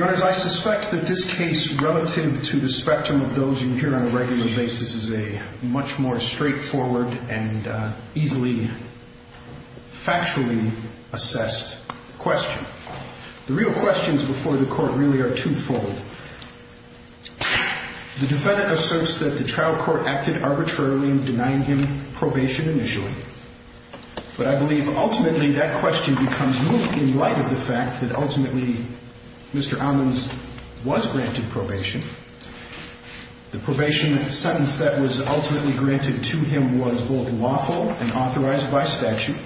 I suspect that this case relative to the spectrum of those you hear on a regular basis is a much more straightforward and easily factually assessed question. The real questions before the court really are twofold. The defendant asserts that the trial court acted arbitrarily in denying him probation initially. But I believe ultimately that question becomes moved in light of the fact that ultimately Mr. Amans was granted probation. The probation sentence that was ultimately granted to him was both lawful and authorized by statute.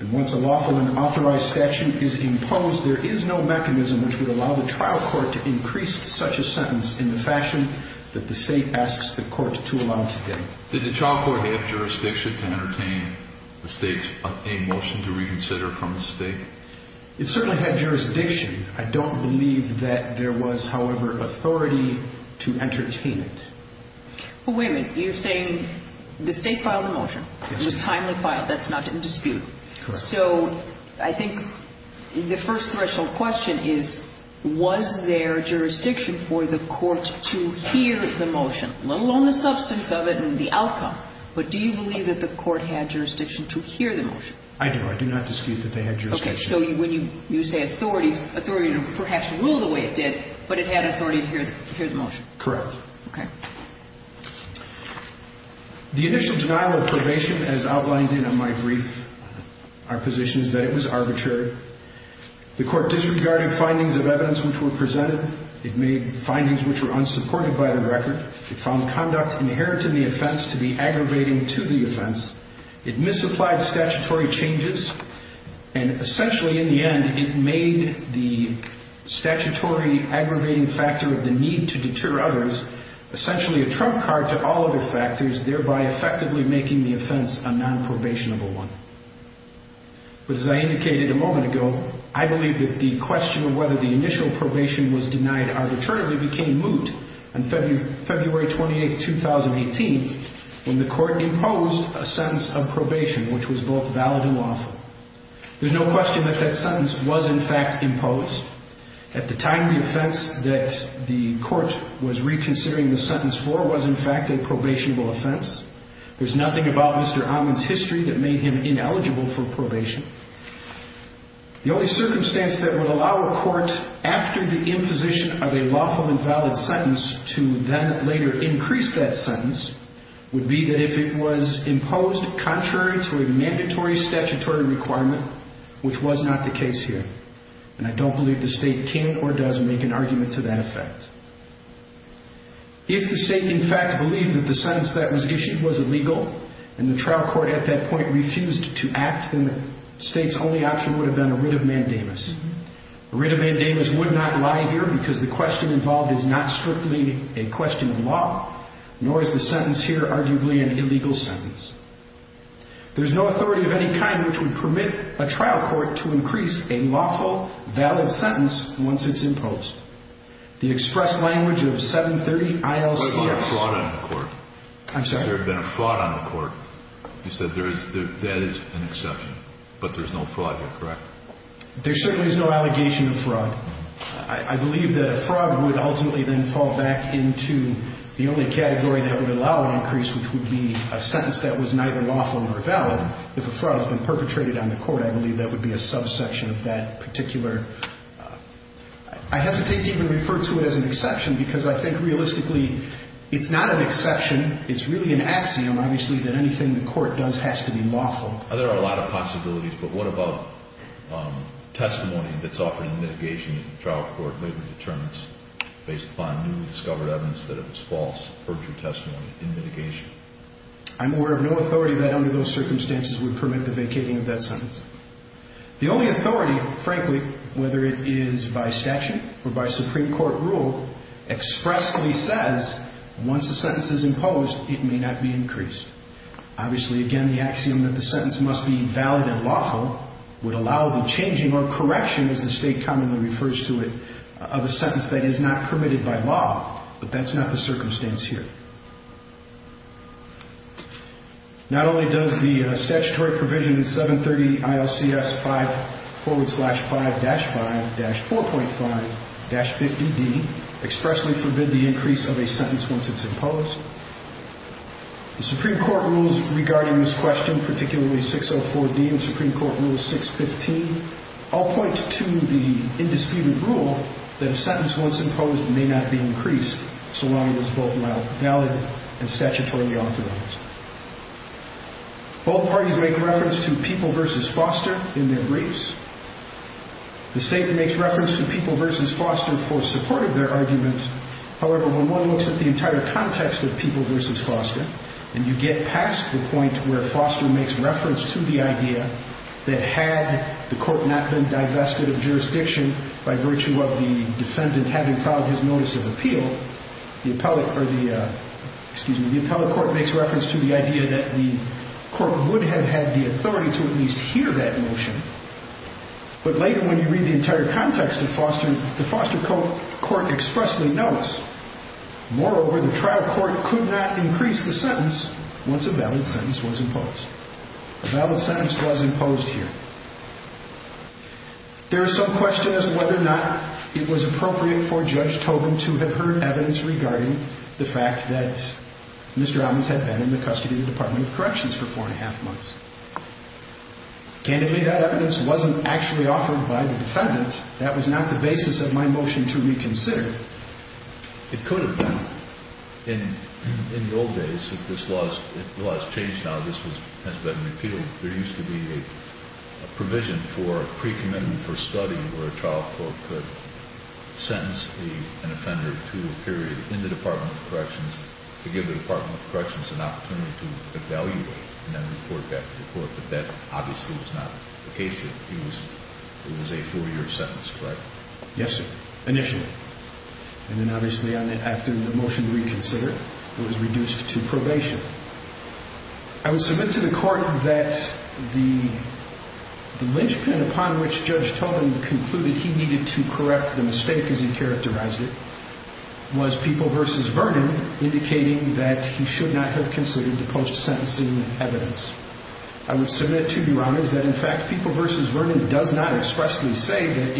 And once a lawful and which would allow the trial court to increase such a sentence in the fashion that the state asks the court to allow today. Did the trial court have jurisdiction to entertain the state's motion to reconsider from the state? It certainly had jurisdiction. I don't believe that there was, however, authority to entertain it. Wait a minute. You're saying the state filed a motion. It was first threshold question is was there jurisdiction for the court to hear the motion? Let alone the substance of it and the outcome. But do you believe that the court had jurisdiction to hear the motion? I do. I do not dispute that they had jurisdiction. Okay. So when you say authority, authority to perhaps rule the way it did, but it had authority to hear the motion. Correct. Okay. The initial denial of probation as outlined in my brief, our position is that it was arbitrary. The court disregarded findings of evidence, which were presented. It made findings which were unsupported by the record. It found conduct inherent to the offense to be aggravating to the offense. It misapplied statutory changes. And essentially in the end, it made the statutory aggravating factor of the need to deter others, essentially a trump card to all other factors, thereby effectively making the offense a nonprobationable one. But as I indicated a moment ago, I believe that the question of whether the initial probation was denied arbitrarily became moot on February 28th, 2018, when the court imposed a sentence of probation, which was both valid and lawful. There's no question that that sentence was in fact imposed. At the time, the offense that the There's nothing about Mr. Amman's history that made him ineligible for probation. The only circumstance that would allow a court after the imposition of a lawful and valid sentence to then later increase that sentence would be that if it was imposed contrary to a mandatory statutory requirement, which was not the case here. And I don't believe the state can or doesn't make an and the trial court at that point refused to act, then the state's only option would have been a writ of mandamus. A writ of mandamus would not lie here because the question involved is not strictly a question of law, nor is the sentence here arguably an illegal sentence. There's no authority of any kind which would permit a trial court to increase a lawful, valid sentence once it's imposed. The express language of 730 ILCX. What about a fraud on the court? I'm sorry? Has there been a fraud on the court? You said there is, that is an exception, but there's no fraud here, correct? There certainly is no allegation of fraud. I believe that a fraud would ultimately then fall back into the only category that would allow an increase, which would be a sentence that was neither lawful nor valid. If a fraud has been perpetrated on the court, I believe that would be a subsection of that particular. I hesitate to even refer to it as an exception because I think realistically it's not an exception. It's really an axiom, obviously, that anything the court does has to be lawful. There are a lot of possibilities, but what about testimony that's offered in mitigation in the trial court later determines, based upon newly discovered evidence, that it was false or true testimony in mitigation? I'm aware of no authority that under those circumstances would permit the vacating of that sentence. The only authority, frankly, whether it is by statute or by Supreme Court rule, expressly says once a sentence is imposed, it may not be increased. Obviously, again, the axiom that the sentence must be valid and lawful would allow the changing or correction, as the State commonly refers to it, of a sentence that is not permitted by law, but that's not the circumstance here. Not only does the statutory provision in 730 ILCS 5 forward slash 5 dash 5 dash 4.5 dash 50D expressly forbid the increase of a sentence once it's imposed, the Supreme Court rules regarding this question, particularly 604D and Supreme Court rule 615, all point to the indisputed rule that a sentence once imposed may not be increased so long as it's both valid and statutorily authorized. Both parties make reference to People v. Foster in their briefs. The State makes reference to People v. Foster for support of their arguments. However, when one looks at the entire context of People v. Foster, and you get past the point where Foster makes reference to the idea that had the court not been authorized notice of appeal, the appellate court makes reference to the idea that the court would have had the authority to at least hear that motion, but later when you read the entire context of Foster, the Foster court expressly notes, moreover, the trial court could not increase the sentence once a valid sentence was imposed. A valid sentence was imposed here. There is some question as to whether or not it was appropriate for Judge Tobin to have heard evidence regarding the fact that Mr. Adams had been in the custody of the Department of Corrections for four and a half months. Candidly, that evidence wasn't actually offered by the defendant. That was not the basis of my motion to reconsider. It could have been. In the old days, if the law has changed now, this has been repealed, there used to be a provision for a pre-commitment for study where a trial court could sentence an offender to a period in the Department of Corrections to give the Department of Corrections an opportunity to evaluate and then report back to the court. But that obviously was not the case here. It was a four-year sentence, correct? Yes, sir. Initially. And then obviously after the motion reconsidered, it was reduced to probation. I would submit to the court that the lynchpin upon which Judge Tobin concluded he needed to correct the mistake as he characterized it was People v. Vernon, indicating that he should not have considered the post-sentencing evidence. I would submit to you, Your Honors, that in fact People v. Vernon does not expressly say that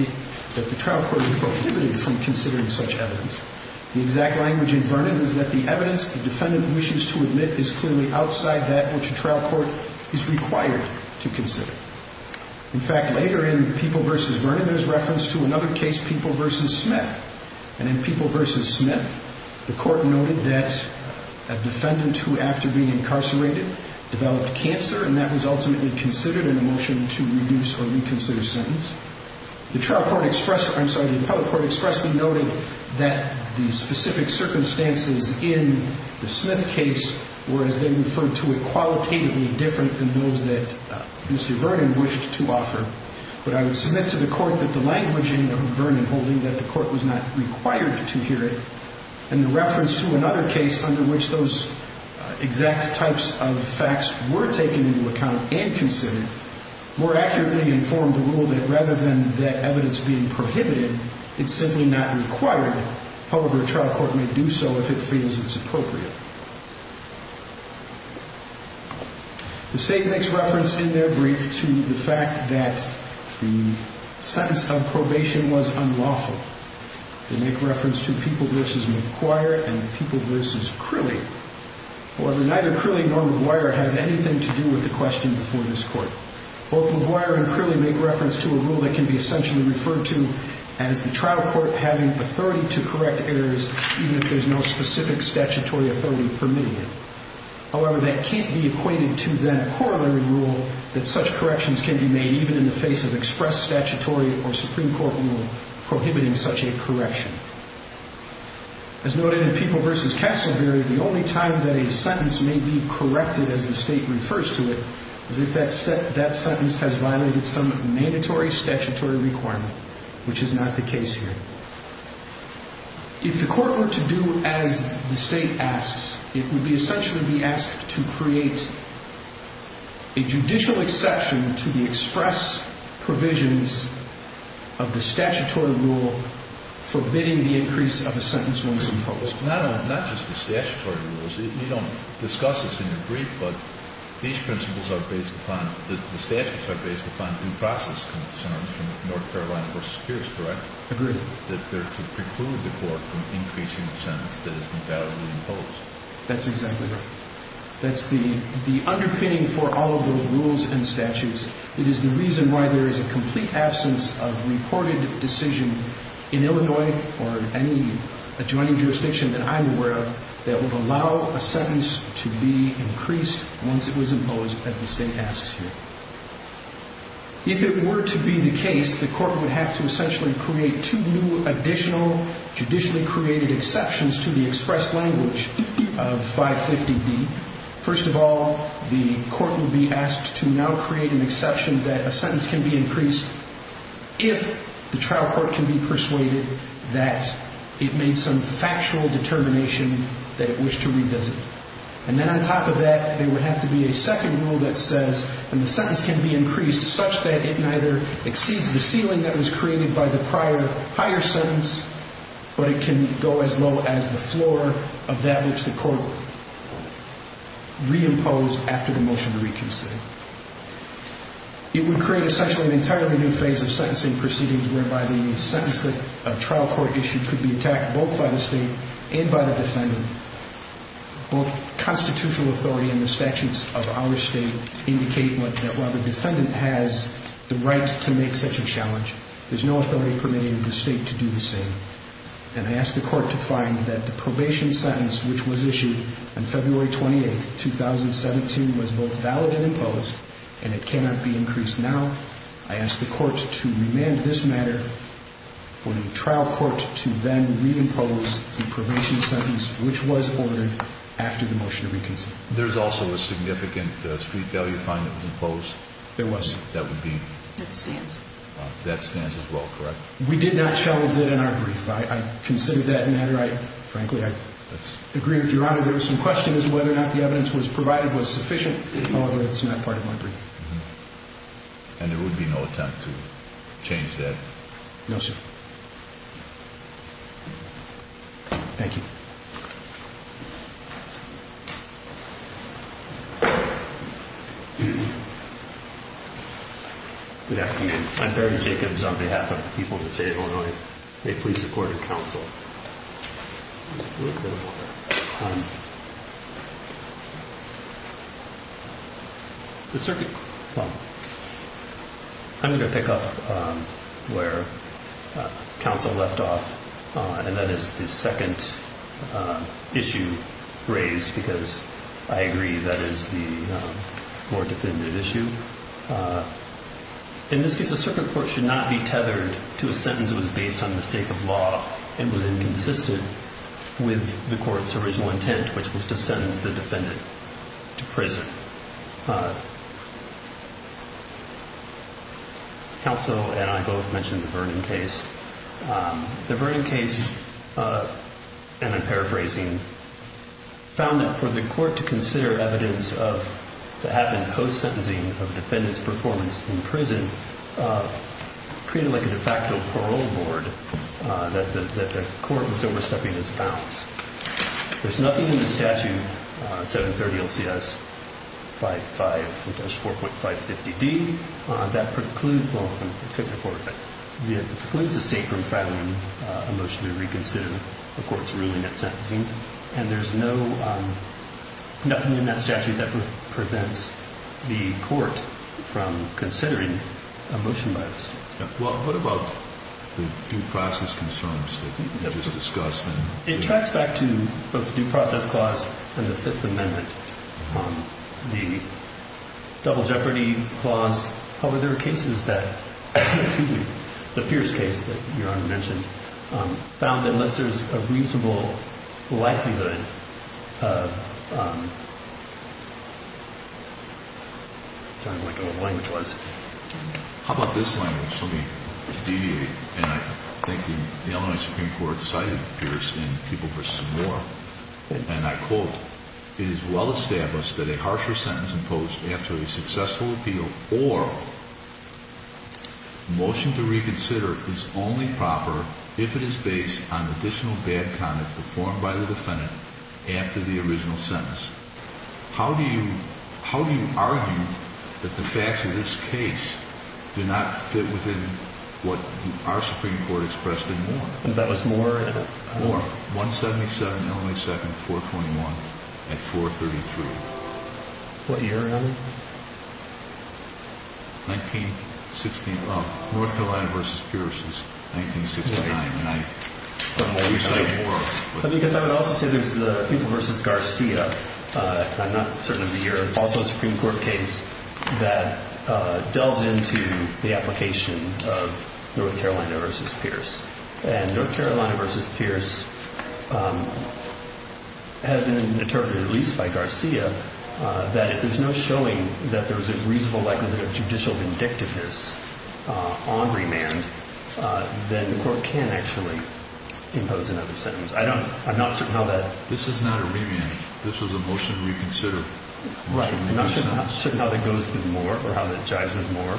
the trial court was prohibited from that which a trial court is required to consider. In fact, later in People v. Vernon, there's reference to another case, People v. Smith. And in People v. Smith, the court noted that a defendant who, after being incarcerated, developed cancer, and that was ultimately considered in a motion to reduce or reconsider sentence. The trial court expressed, I'm sorry, the appellate court expressly noted that the specific circumstances in the Smith case were, as they referred to it, qualitatively different than those that Mr. Vernon wished to offer. But I would submit to the court that the languaging of Vernon holding that the court was not required to hear it, and the reference to another case under which those exact types of facts were taken into account and considered, more accurately informed the rule that rather than that evidence being prohibited, it's simply not required. However, a trial court may do so if it feels it's appropriate. The State makes reference in their brief to the fact that the sentence of probation was unlawful. They make reference to People v. McGuire and People v. Crilly. However, neither Crilly nor McGuire have anything to do with the question before this court. Both McGuire and Crilly make reference to a rule that can be essentially referred to as the trial court having authority to correct errors even if there's no specific statutory authority permitting it. However, that can't be equated to then a corollary rule that such corrections can be made even in the face of express statutory or Supreme Court rule prohibiting such a correction. As noted in People v. Castleberry, the only time that a sentence may be corrected as the State refers to it is if that sentence has violated some mandatory statutory requirement, which is not the case here. If the court were to do as the State asks, it would essentially be asked to create a judicial exception to the express provisions of the statutory rule forbidding the increase of a sentence once imposed. Not just the statutory rules. You don't discuss this in your brief, but these principles are based upon, the statutes are based upon due process concerns from North Carolina v. Pierce, correct? Agreed. It's not that they're precluding the court from increasing the sentence that has been validly imposed. That's exactly right. That's the underpinning for all of those rules and statutes. It is the reason why there is a complete absence of reported decision in Illinois or in any adjoining jurisdiction that I'm aware of that would allow a sentence to be increased once it was imposed as the State asks here. If it were to be the case, the court would have to essentially create two new additional judicially created exceptions to the express language of 550B. First of all, the court would be asked to now create an exception that a sentence can be increased if the trial court can be persuaded that it made some factual determination that it wished to revisit. And then on top of that, there would have to be a second rule that says the sentence can be increased such that it neither exceeds the ceiling that was created by the prior higher sentence, but it can go as low as the floor of that which the court reimposed after the motion to reconsider. It would create essentially an entirely new phase of sentencing proceedings whereby the sentence that a trial court issued could be attacked both by the State and by the defendant. Both constitutional authority and the statutes of our State indicate that while the defendant has the right to make such a challenge, there's no authority permitting the State to do the same. And I ask the court to find that the probation sentence which was issued on February 28, 2017 was both valid and imposed, and it cannot be increased now. I ask the court to remand this matter for the trial court to then reimpose the probation sentence which was ordered after the motion to reconsider. There's also a significant street value fine that was imposed? There was. That would be? That stands. That stands as well, correct? We did not challenge that in our brief. I considered that matter. Frankly, I agree with Your Honor. There was some question as to whether or not the evidence was provided was sufficient. However, it's not part of my brief. And there would be no attempt to change that? No, sir. Thank you. Good afternoon. I'm Barry Jacobs on behalf of the people of the State of Illinois. May it please the Court and Counsel. I'm going to pick up where Counsel left off, and that is the second issue raised, because I agree that is the more definitive issue. In this case, a circuit court should not be tethered to a sentence that was based on mistake of law and was inconsistent with the court's original intent, which was to sentence the defendant to prison. Counsel and I both mentioned the Vernon case. The Vernon case, and I'm paraphrasing, found that for the court to consider evidence of what happened post-sentencing of the defendant's performance in prison, created like a de facto parole board that the court was overstepping its bounds. There's nothing in the statute, 730 LCS 55-4.550D, that precludes the state from filing a motion to reconsider the court's ruling at sentencing. And there's nothing in that statute that prevents the court from considering a motion by the state. What about the due process concerns that you just discussed? It tracks back to both the due process clause and the Fifth Amendment. The double jeopardy clause, however, there are cases that, excuse me, the Pierce case that Your Honor mentioned, found that unless there's a reasonable likelihood of, I'm trying to think of what the language was. How about this language? Let me deviate. And I think the Illinois Supreme Court cited Pierce in People v. Moore. And I quote, it is well established that a harsher sentence imposed after a successful appeal or motion to reconsider is only proper if it is based on additional bad comment performed by the defendant after the original sentence. How do you argue that the facts of this case do not fit within what our Supreme Court expressed in Moore? That was Moore? Moore, 177 Illinois 2nd 421 at 433. What year, Your Honor? 1916, oh, North Carolina v. Pierce is 1969. Because I would also say there's the People v. Garcia, I'm not certain of the year, also a Supreme Court case that delves into the application of North Carolina v. Pierce. And North Carolina v. Pierce has been interpreted, at least by Garcia, that if there's no showing that there's a reasonable likelihood of judicial vindictiveness on remand, then the court can actually impose another sentence. I'm not certain how that. This is not a remand. This was a motion to reconsider. Right, I'm not certain how that goes with Moore or how that jives with Moore.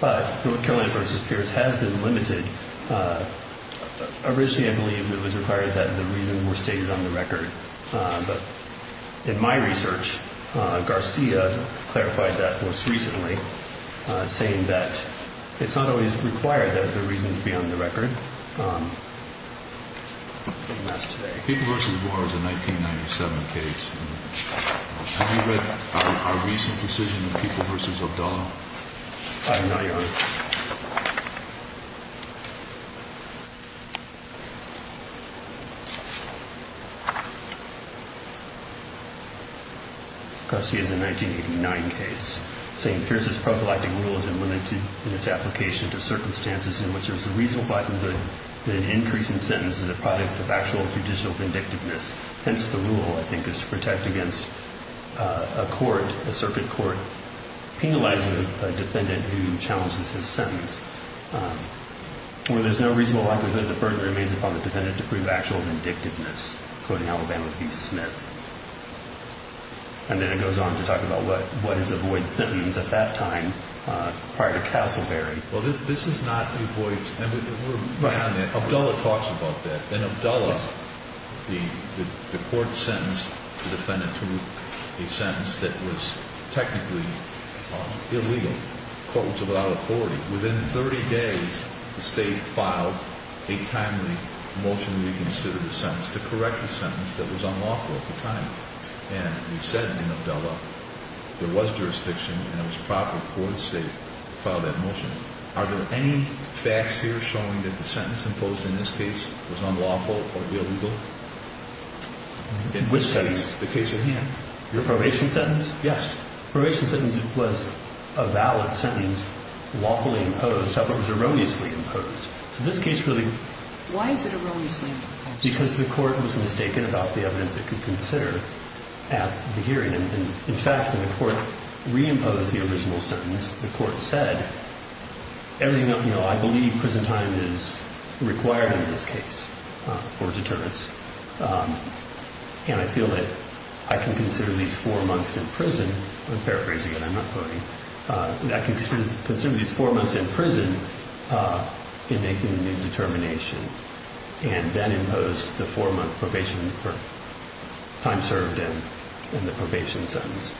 But North Carolina v. Pierce has been limited. Originally, I believe it was required that the reasons were stated on the record. But in my research, Garcia clarified that most recently, saying that it's not always required that the reasons be on the record, and that's today. People v. Moore is a 1997 case. Have you read our recent decision of People v. O'Donnell? I have not, Your Honor. Garcia is a 1989 case, saying, Pierce's prophylactic rule has been limited in its application to circumstances in which there's a reasonable likelihood that an increase in sentences is a product of actual judicial vindictiveness. Hence, the rule, I think, is to protect against a court, a circuit court, penalizing a defendant who challenges his sentence. Where there's no reasonable likelihood, the burden remains upon the defendant to prove actual vindictiveness, quoting Alabama v. Smith. And then it goes on to talk about what is a void sentence at that time, prior to Castleberry. Well, this is not a void sentence. Abdullah talks about that. In Abdullah, the court sentenced the defendant to a sentence that was technically illegal. The court was without authority. Within 30 days, the State filed a timely motion reconsidering the sentence to correct the sentence that was unlawful at the time. And we said in Abdullah there was jurisdiction and it was proper for the State to file that motion. Are there any facts here showing that the sentence imposed in this case was unlawful or illegal? Which sentence? The case at hand. Your probation sentence? Yes. The probation sentence was a valid sentence, lawfully imposed. However, it was erroneously imposed. So this case really... Why is it erroneously imposed? Because the court was mistaken about the evidence it could consider at the hearing. In fact, when the court reimposed the original sentence, the court said, I believe prison time is required in this case for deterrence. And I feel that I can consider these four months in prison I'm paraphrasing it, I'm not voting. I can consider these four months in prison in making the determination and then impose the four-month probation time served in the probation sentence.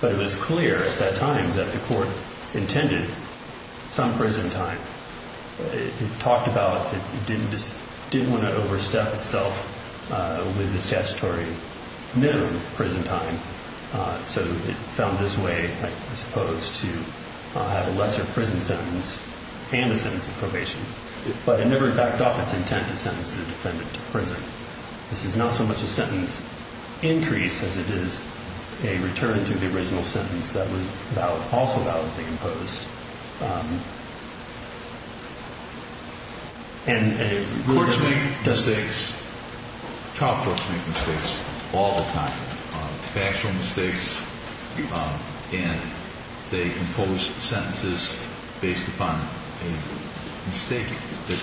But it was clear at that time that the court intended some prison time. It talked about it didn't want to overstep itself with the statutory minimum prison time. So it found this way, I suppose, to have a lesser prison sentence and a sentence of probation. But it never backed off its intent to sentence the defendant to prison. This is not so much a sentence increase as it is a return to the original sentence that was also validly imposed. And it really doesn't... Courts make mistakes. Child courts make mistakes all the time. Factual mistakes. And they impose sentences based upon a mistake, a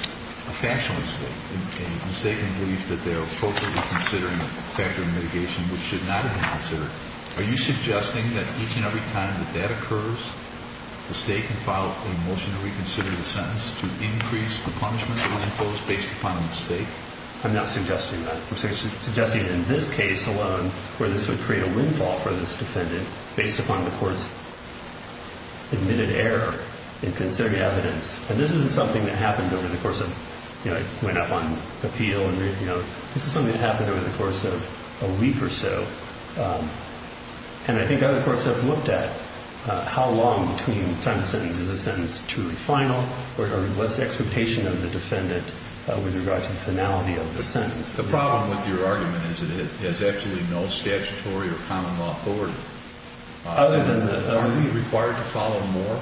factual mistake. A mistaken belief that they're appropriately considering the factor of mitigation which should not have been considered. Are you suggesting that each and every time that that occurs, the state can file a motion to reconsider the sentence to increase the punishment that was imposed based upon a mistake? I'm not suggesting that. I'm suggesting in this case alone where this would create a windfall for this defendant based upon the court's admitted error in considering evidence. And this isn't something that happened over the course of... It went up on appeal. This is something that happened over the course of a week or so. And I think other courts have looked at how long between the time of sentence. Is the sentence truly final? Or what's the expectation of the defendant with regard to the finality of the sentence? The problem with your argument is that it has absolutely no statutory or common law authority. Are we required to follow more?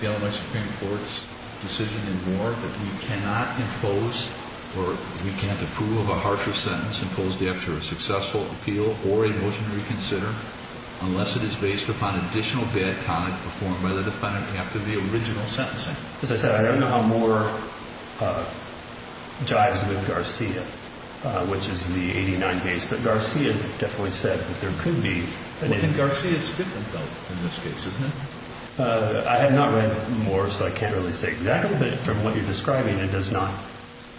The Illinois Supreme Court's decision in Moore that we cannot impose or we can't approve of a harsher sentence imposed after a successful appeal or a motion to reconsider unless it is based upon additional bad conduct performed by the defendant after the original sentencing. As I said, I don't know how Moore jives with Garcia, which is the 89 days. But Garcia has definitely said that there could be... I have not read Moore, so I can't really say exactly. But from what you're describing, it does not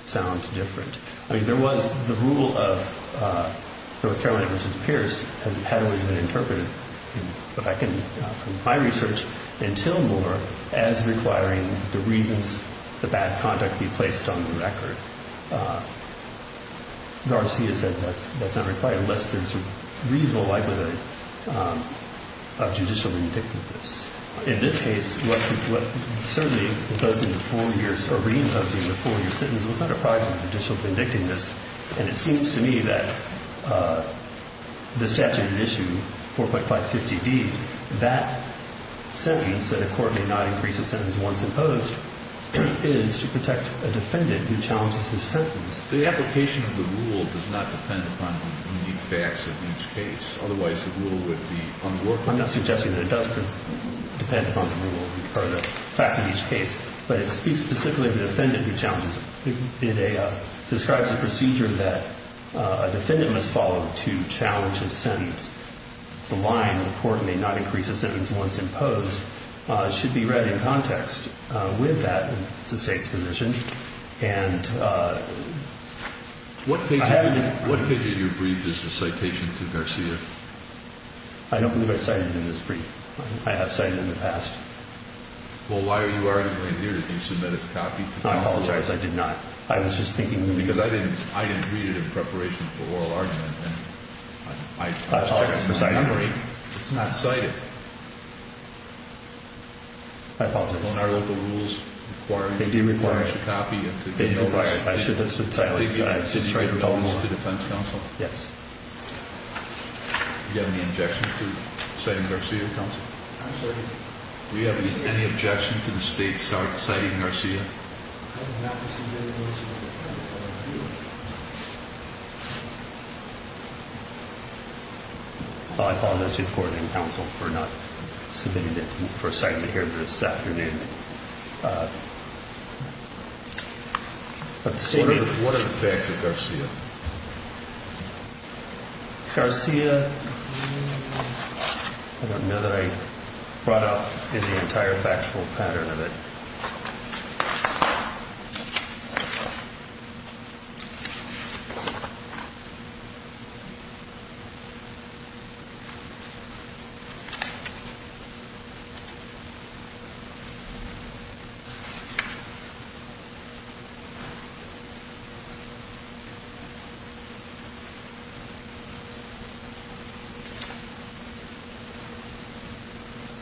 sound different. I mean, there was the rule of North Carolina v. Pierce had always been interpreted in my research until Moore as requiring the reasons the bad conduct be placed on the record. Garcia said that's not required unless there's a reasonable likelihood of judicial vindictiveness. In this case, what certainly imposing the four-year sentence was not a prior to judicial vindictiveness. And it seems to me that the statute in issue 4.550d, that sentence that a court may not increase a sentence once imposed is to protect a defendant who challenges his sentence. The application of the rule does not depend upon unique facts of each case. Otherwise, the rule would be unworkable. I'm not suggesting that it does depend upon the rule or the facts of each case. But it speaks specifically to the defendant who challenges it. It describes a procedure that a defendant must follow to challenge his sentence. It's a line in the court may not increase a sentence once imposed. It should be read in context with that. It's the State's position. What page of your brief is the citation to Garcia? I don't believe I cited it in this brief. I have cited it in the past. Well, why are you arguing here? Did you submit a copy? I apologize. I did not. I was just thinking. Because I didn't read it in preparation for oral argument. I apologize for citing it. It's not cited. I apologize. They didn't require it. I should have subtitled it. Did you have any objections to citing Garcia, Counsel? I'm sorry? Do you have any objection to the State citing Garcia? I apologize to the Court and Counsel for not submitting it, for citing it here this afternoon. What are the facts of Garcia? Garcia, I don't know that I brought up the entire factual pattern of it.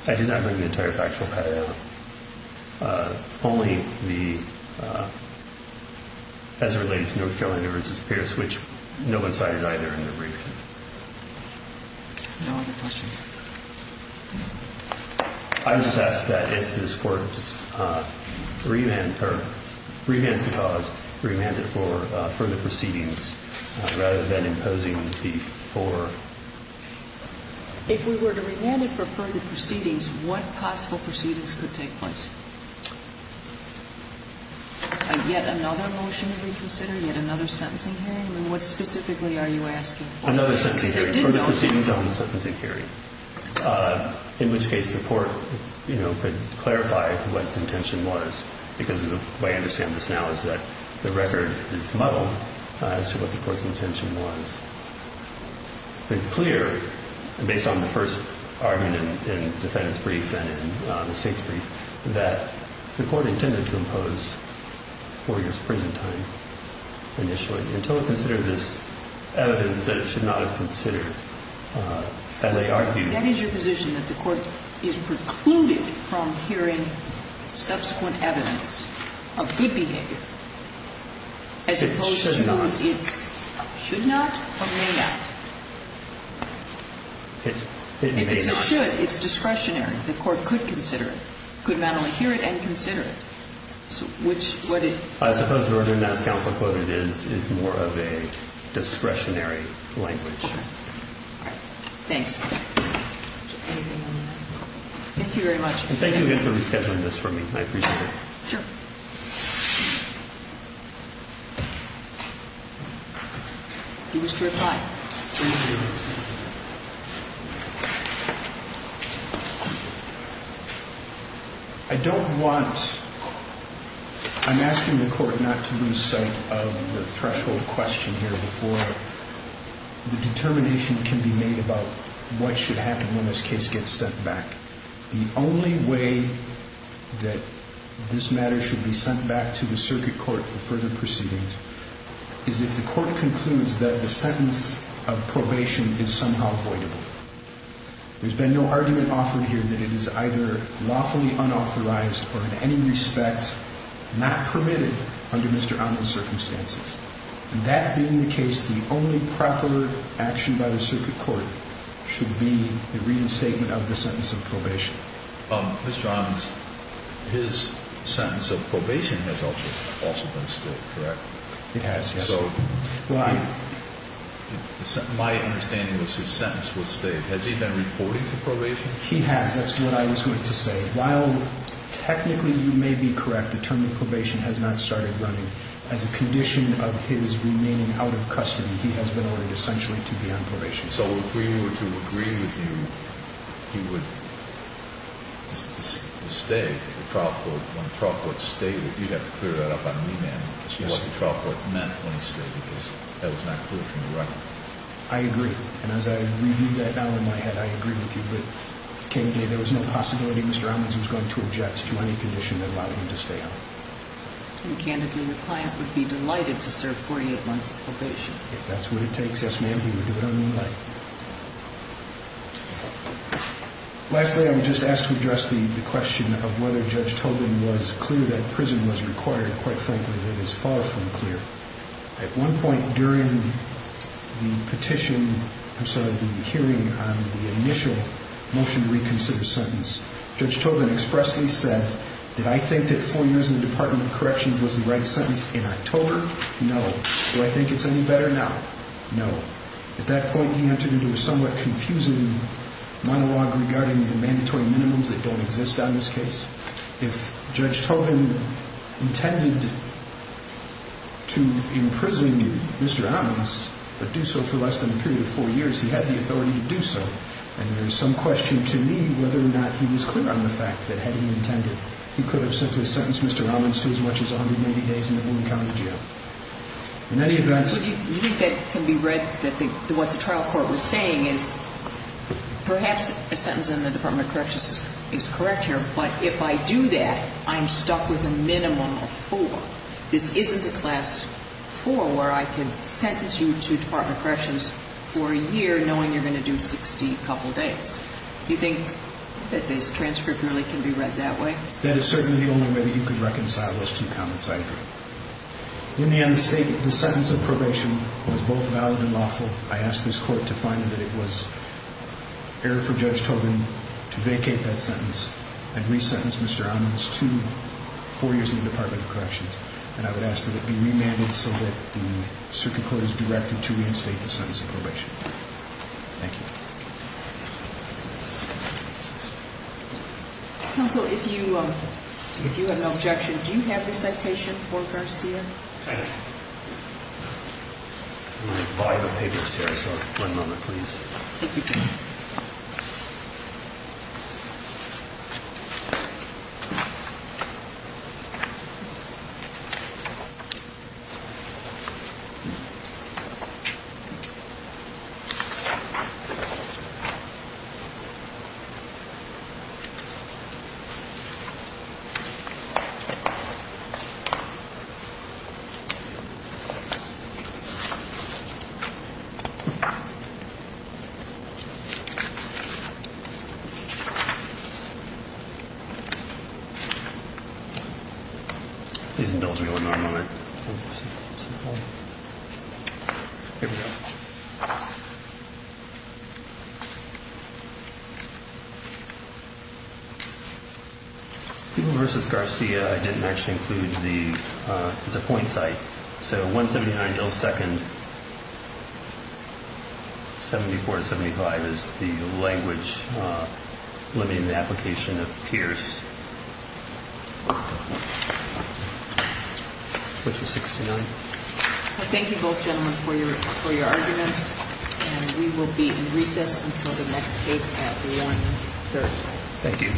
I did not bring up the entire factual pattern of it. Only the, as it relates to North Carolina v. Pierce, which no one cited either in the brief. No other questions. I would just ask that if this Court revents the cause, revents it for further proceedings, rather than imposing the four. If we were to revent it for further proceedings, what possible proceedings could take place? Yet another motion to reconsider? Yet another sentencing hearing? I mean, what specifically are you asking? Another sentencing hearing. Further proceedings on the sentencing hearing. In which case the Court, you know, could clarify what its intention was, because the way I understand this now is that the record is muddled as to what the Court's intention was. But it's clear, based on the first argument in the defendant's brief and in the State's brief, that the Court intended to impose four years' prison time initially, until it considered this evidence that it should not have considered as a argument. That is your position, that the Court is precluded from hearing subsequent evidence of good behavior? It should not. As opposed to its should not or may not? It may not. If it's a should, it's discretionary. The Court could consider it. Could not only hear it and consider it. I suppose the reason that's counsel quoted is more of a discretionary language. Thanks. Thank you very much. And thank you again for rescheduling this for me. I appreciate it. Sure. You wish to reply? Thank you. I don't want – I'm asking the Court not to lose sight of the threshold question here before it. The determination can be made about what should happen when this case gets sent back. The only way that this matter should be sent back to the Circuit Court for further proceedings is if the Court concludes that the sentence of probation is somehow voidable. There's been no argument offered here that it is either lawfully unauthorized or in any respect not permitted under Mr. Amin's circumstances. And that being the case, the only proper action by the Circuit Court should be the reinstatement of the sentence of probation. Mr. Amin, his sentence of probation has also been stayed, correct? It has, yes. So my understanding was his sentence was stayed. Has he been reporting for probation? He has. That's what I was going to say. While technically you may be correct, the term of probation has not started running. As a condition of his remaining out of custody, he has been ordered essentially to be on probation. So if we were to agree with you, he would stay at the trial court. When the trial court stated it, you'd have to clear that up on me, ma'am, as to what the trial court meant when it stated this. That was not clear from the record. I agree. And as I review that now in my head, I agree with you. But candidly, there was no possibility Mr. Amin was going to object to any condition that allowed him to stay on. If that's what it takes, yes, ma'am, he would do it on me. Lastly, I was just asked to address the question of whether Judge Tobin was clear that prison was required. Quite frankly, it is far from clear. At one point during the petition, I'm sorry, the hearing on the initial motion to reconsider sentence, Judge Tobin expressly said, did I think that four years in the Department of Corrections was the right sentence in October? No. Do I think it's any better now? No. At that point, he entered into a somewhat confusing monologue regarding the mandatory minimums that don't exist on this case. If Judge Tobin intended to imprison Mr. Amin but do so for less than a period of four years, he had the authority to do so. And there's some question to me whether or not he was clear on the fact that had he intended, he could have sentenced Mr. Amin to as much as 180 days in the county jail. In any event. Do you think that can be read that what the trial court was saying is perhaps a sentence in the Department of Corrections is correct here, but if I do that, I'm stuck with a minimum of four. This isn't a class four where I can sentence you to Department of Corrections for a year knowing you're going to do 60-couple days. Do you think that this transcript really can be read that way? That is certainly the only way that you could reconcile those two comments, I agree. In the end, the sentence of probation was both valid and lawful. I ask this court to find that it was error for Judge Tobin to vacate that sentence and resentence Mr. Amin to four years in the Department of Corrections. And I would ask that it be remanded so that the circuit court is directed to reinstate the sentence of probation. Thank you. Counsel, if you have an objection, do you have the citation for Garcia? I do. I'm going to buy the papers here, so one moment, please. Thank you. Thank you. These don't go in my mind. Here we go. Even versus Garcia, I didn't actually include the point site. So 179 millisecond, 74 to 75 is the language limiting the application of Pierce. Which is 69. Thank you, both gentlemen, for your arguments. And we will be in recess until the next case at 1-30. Thank you.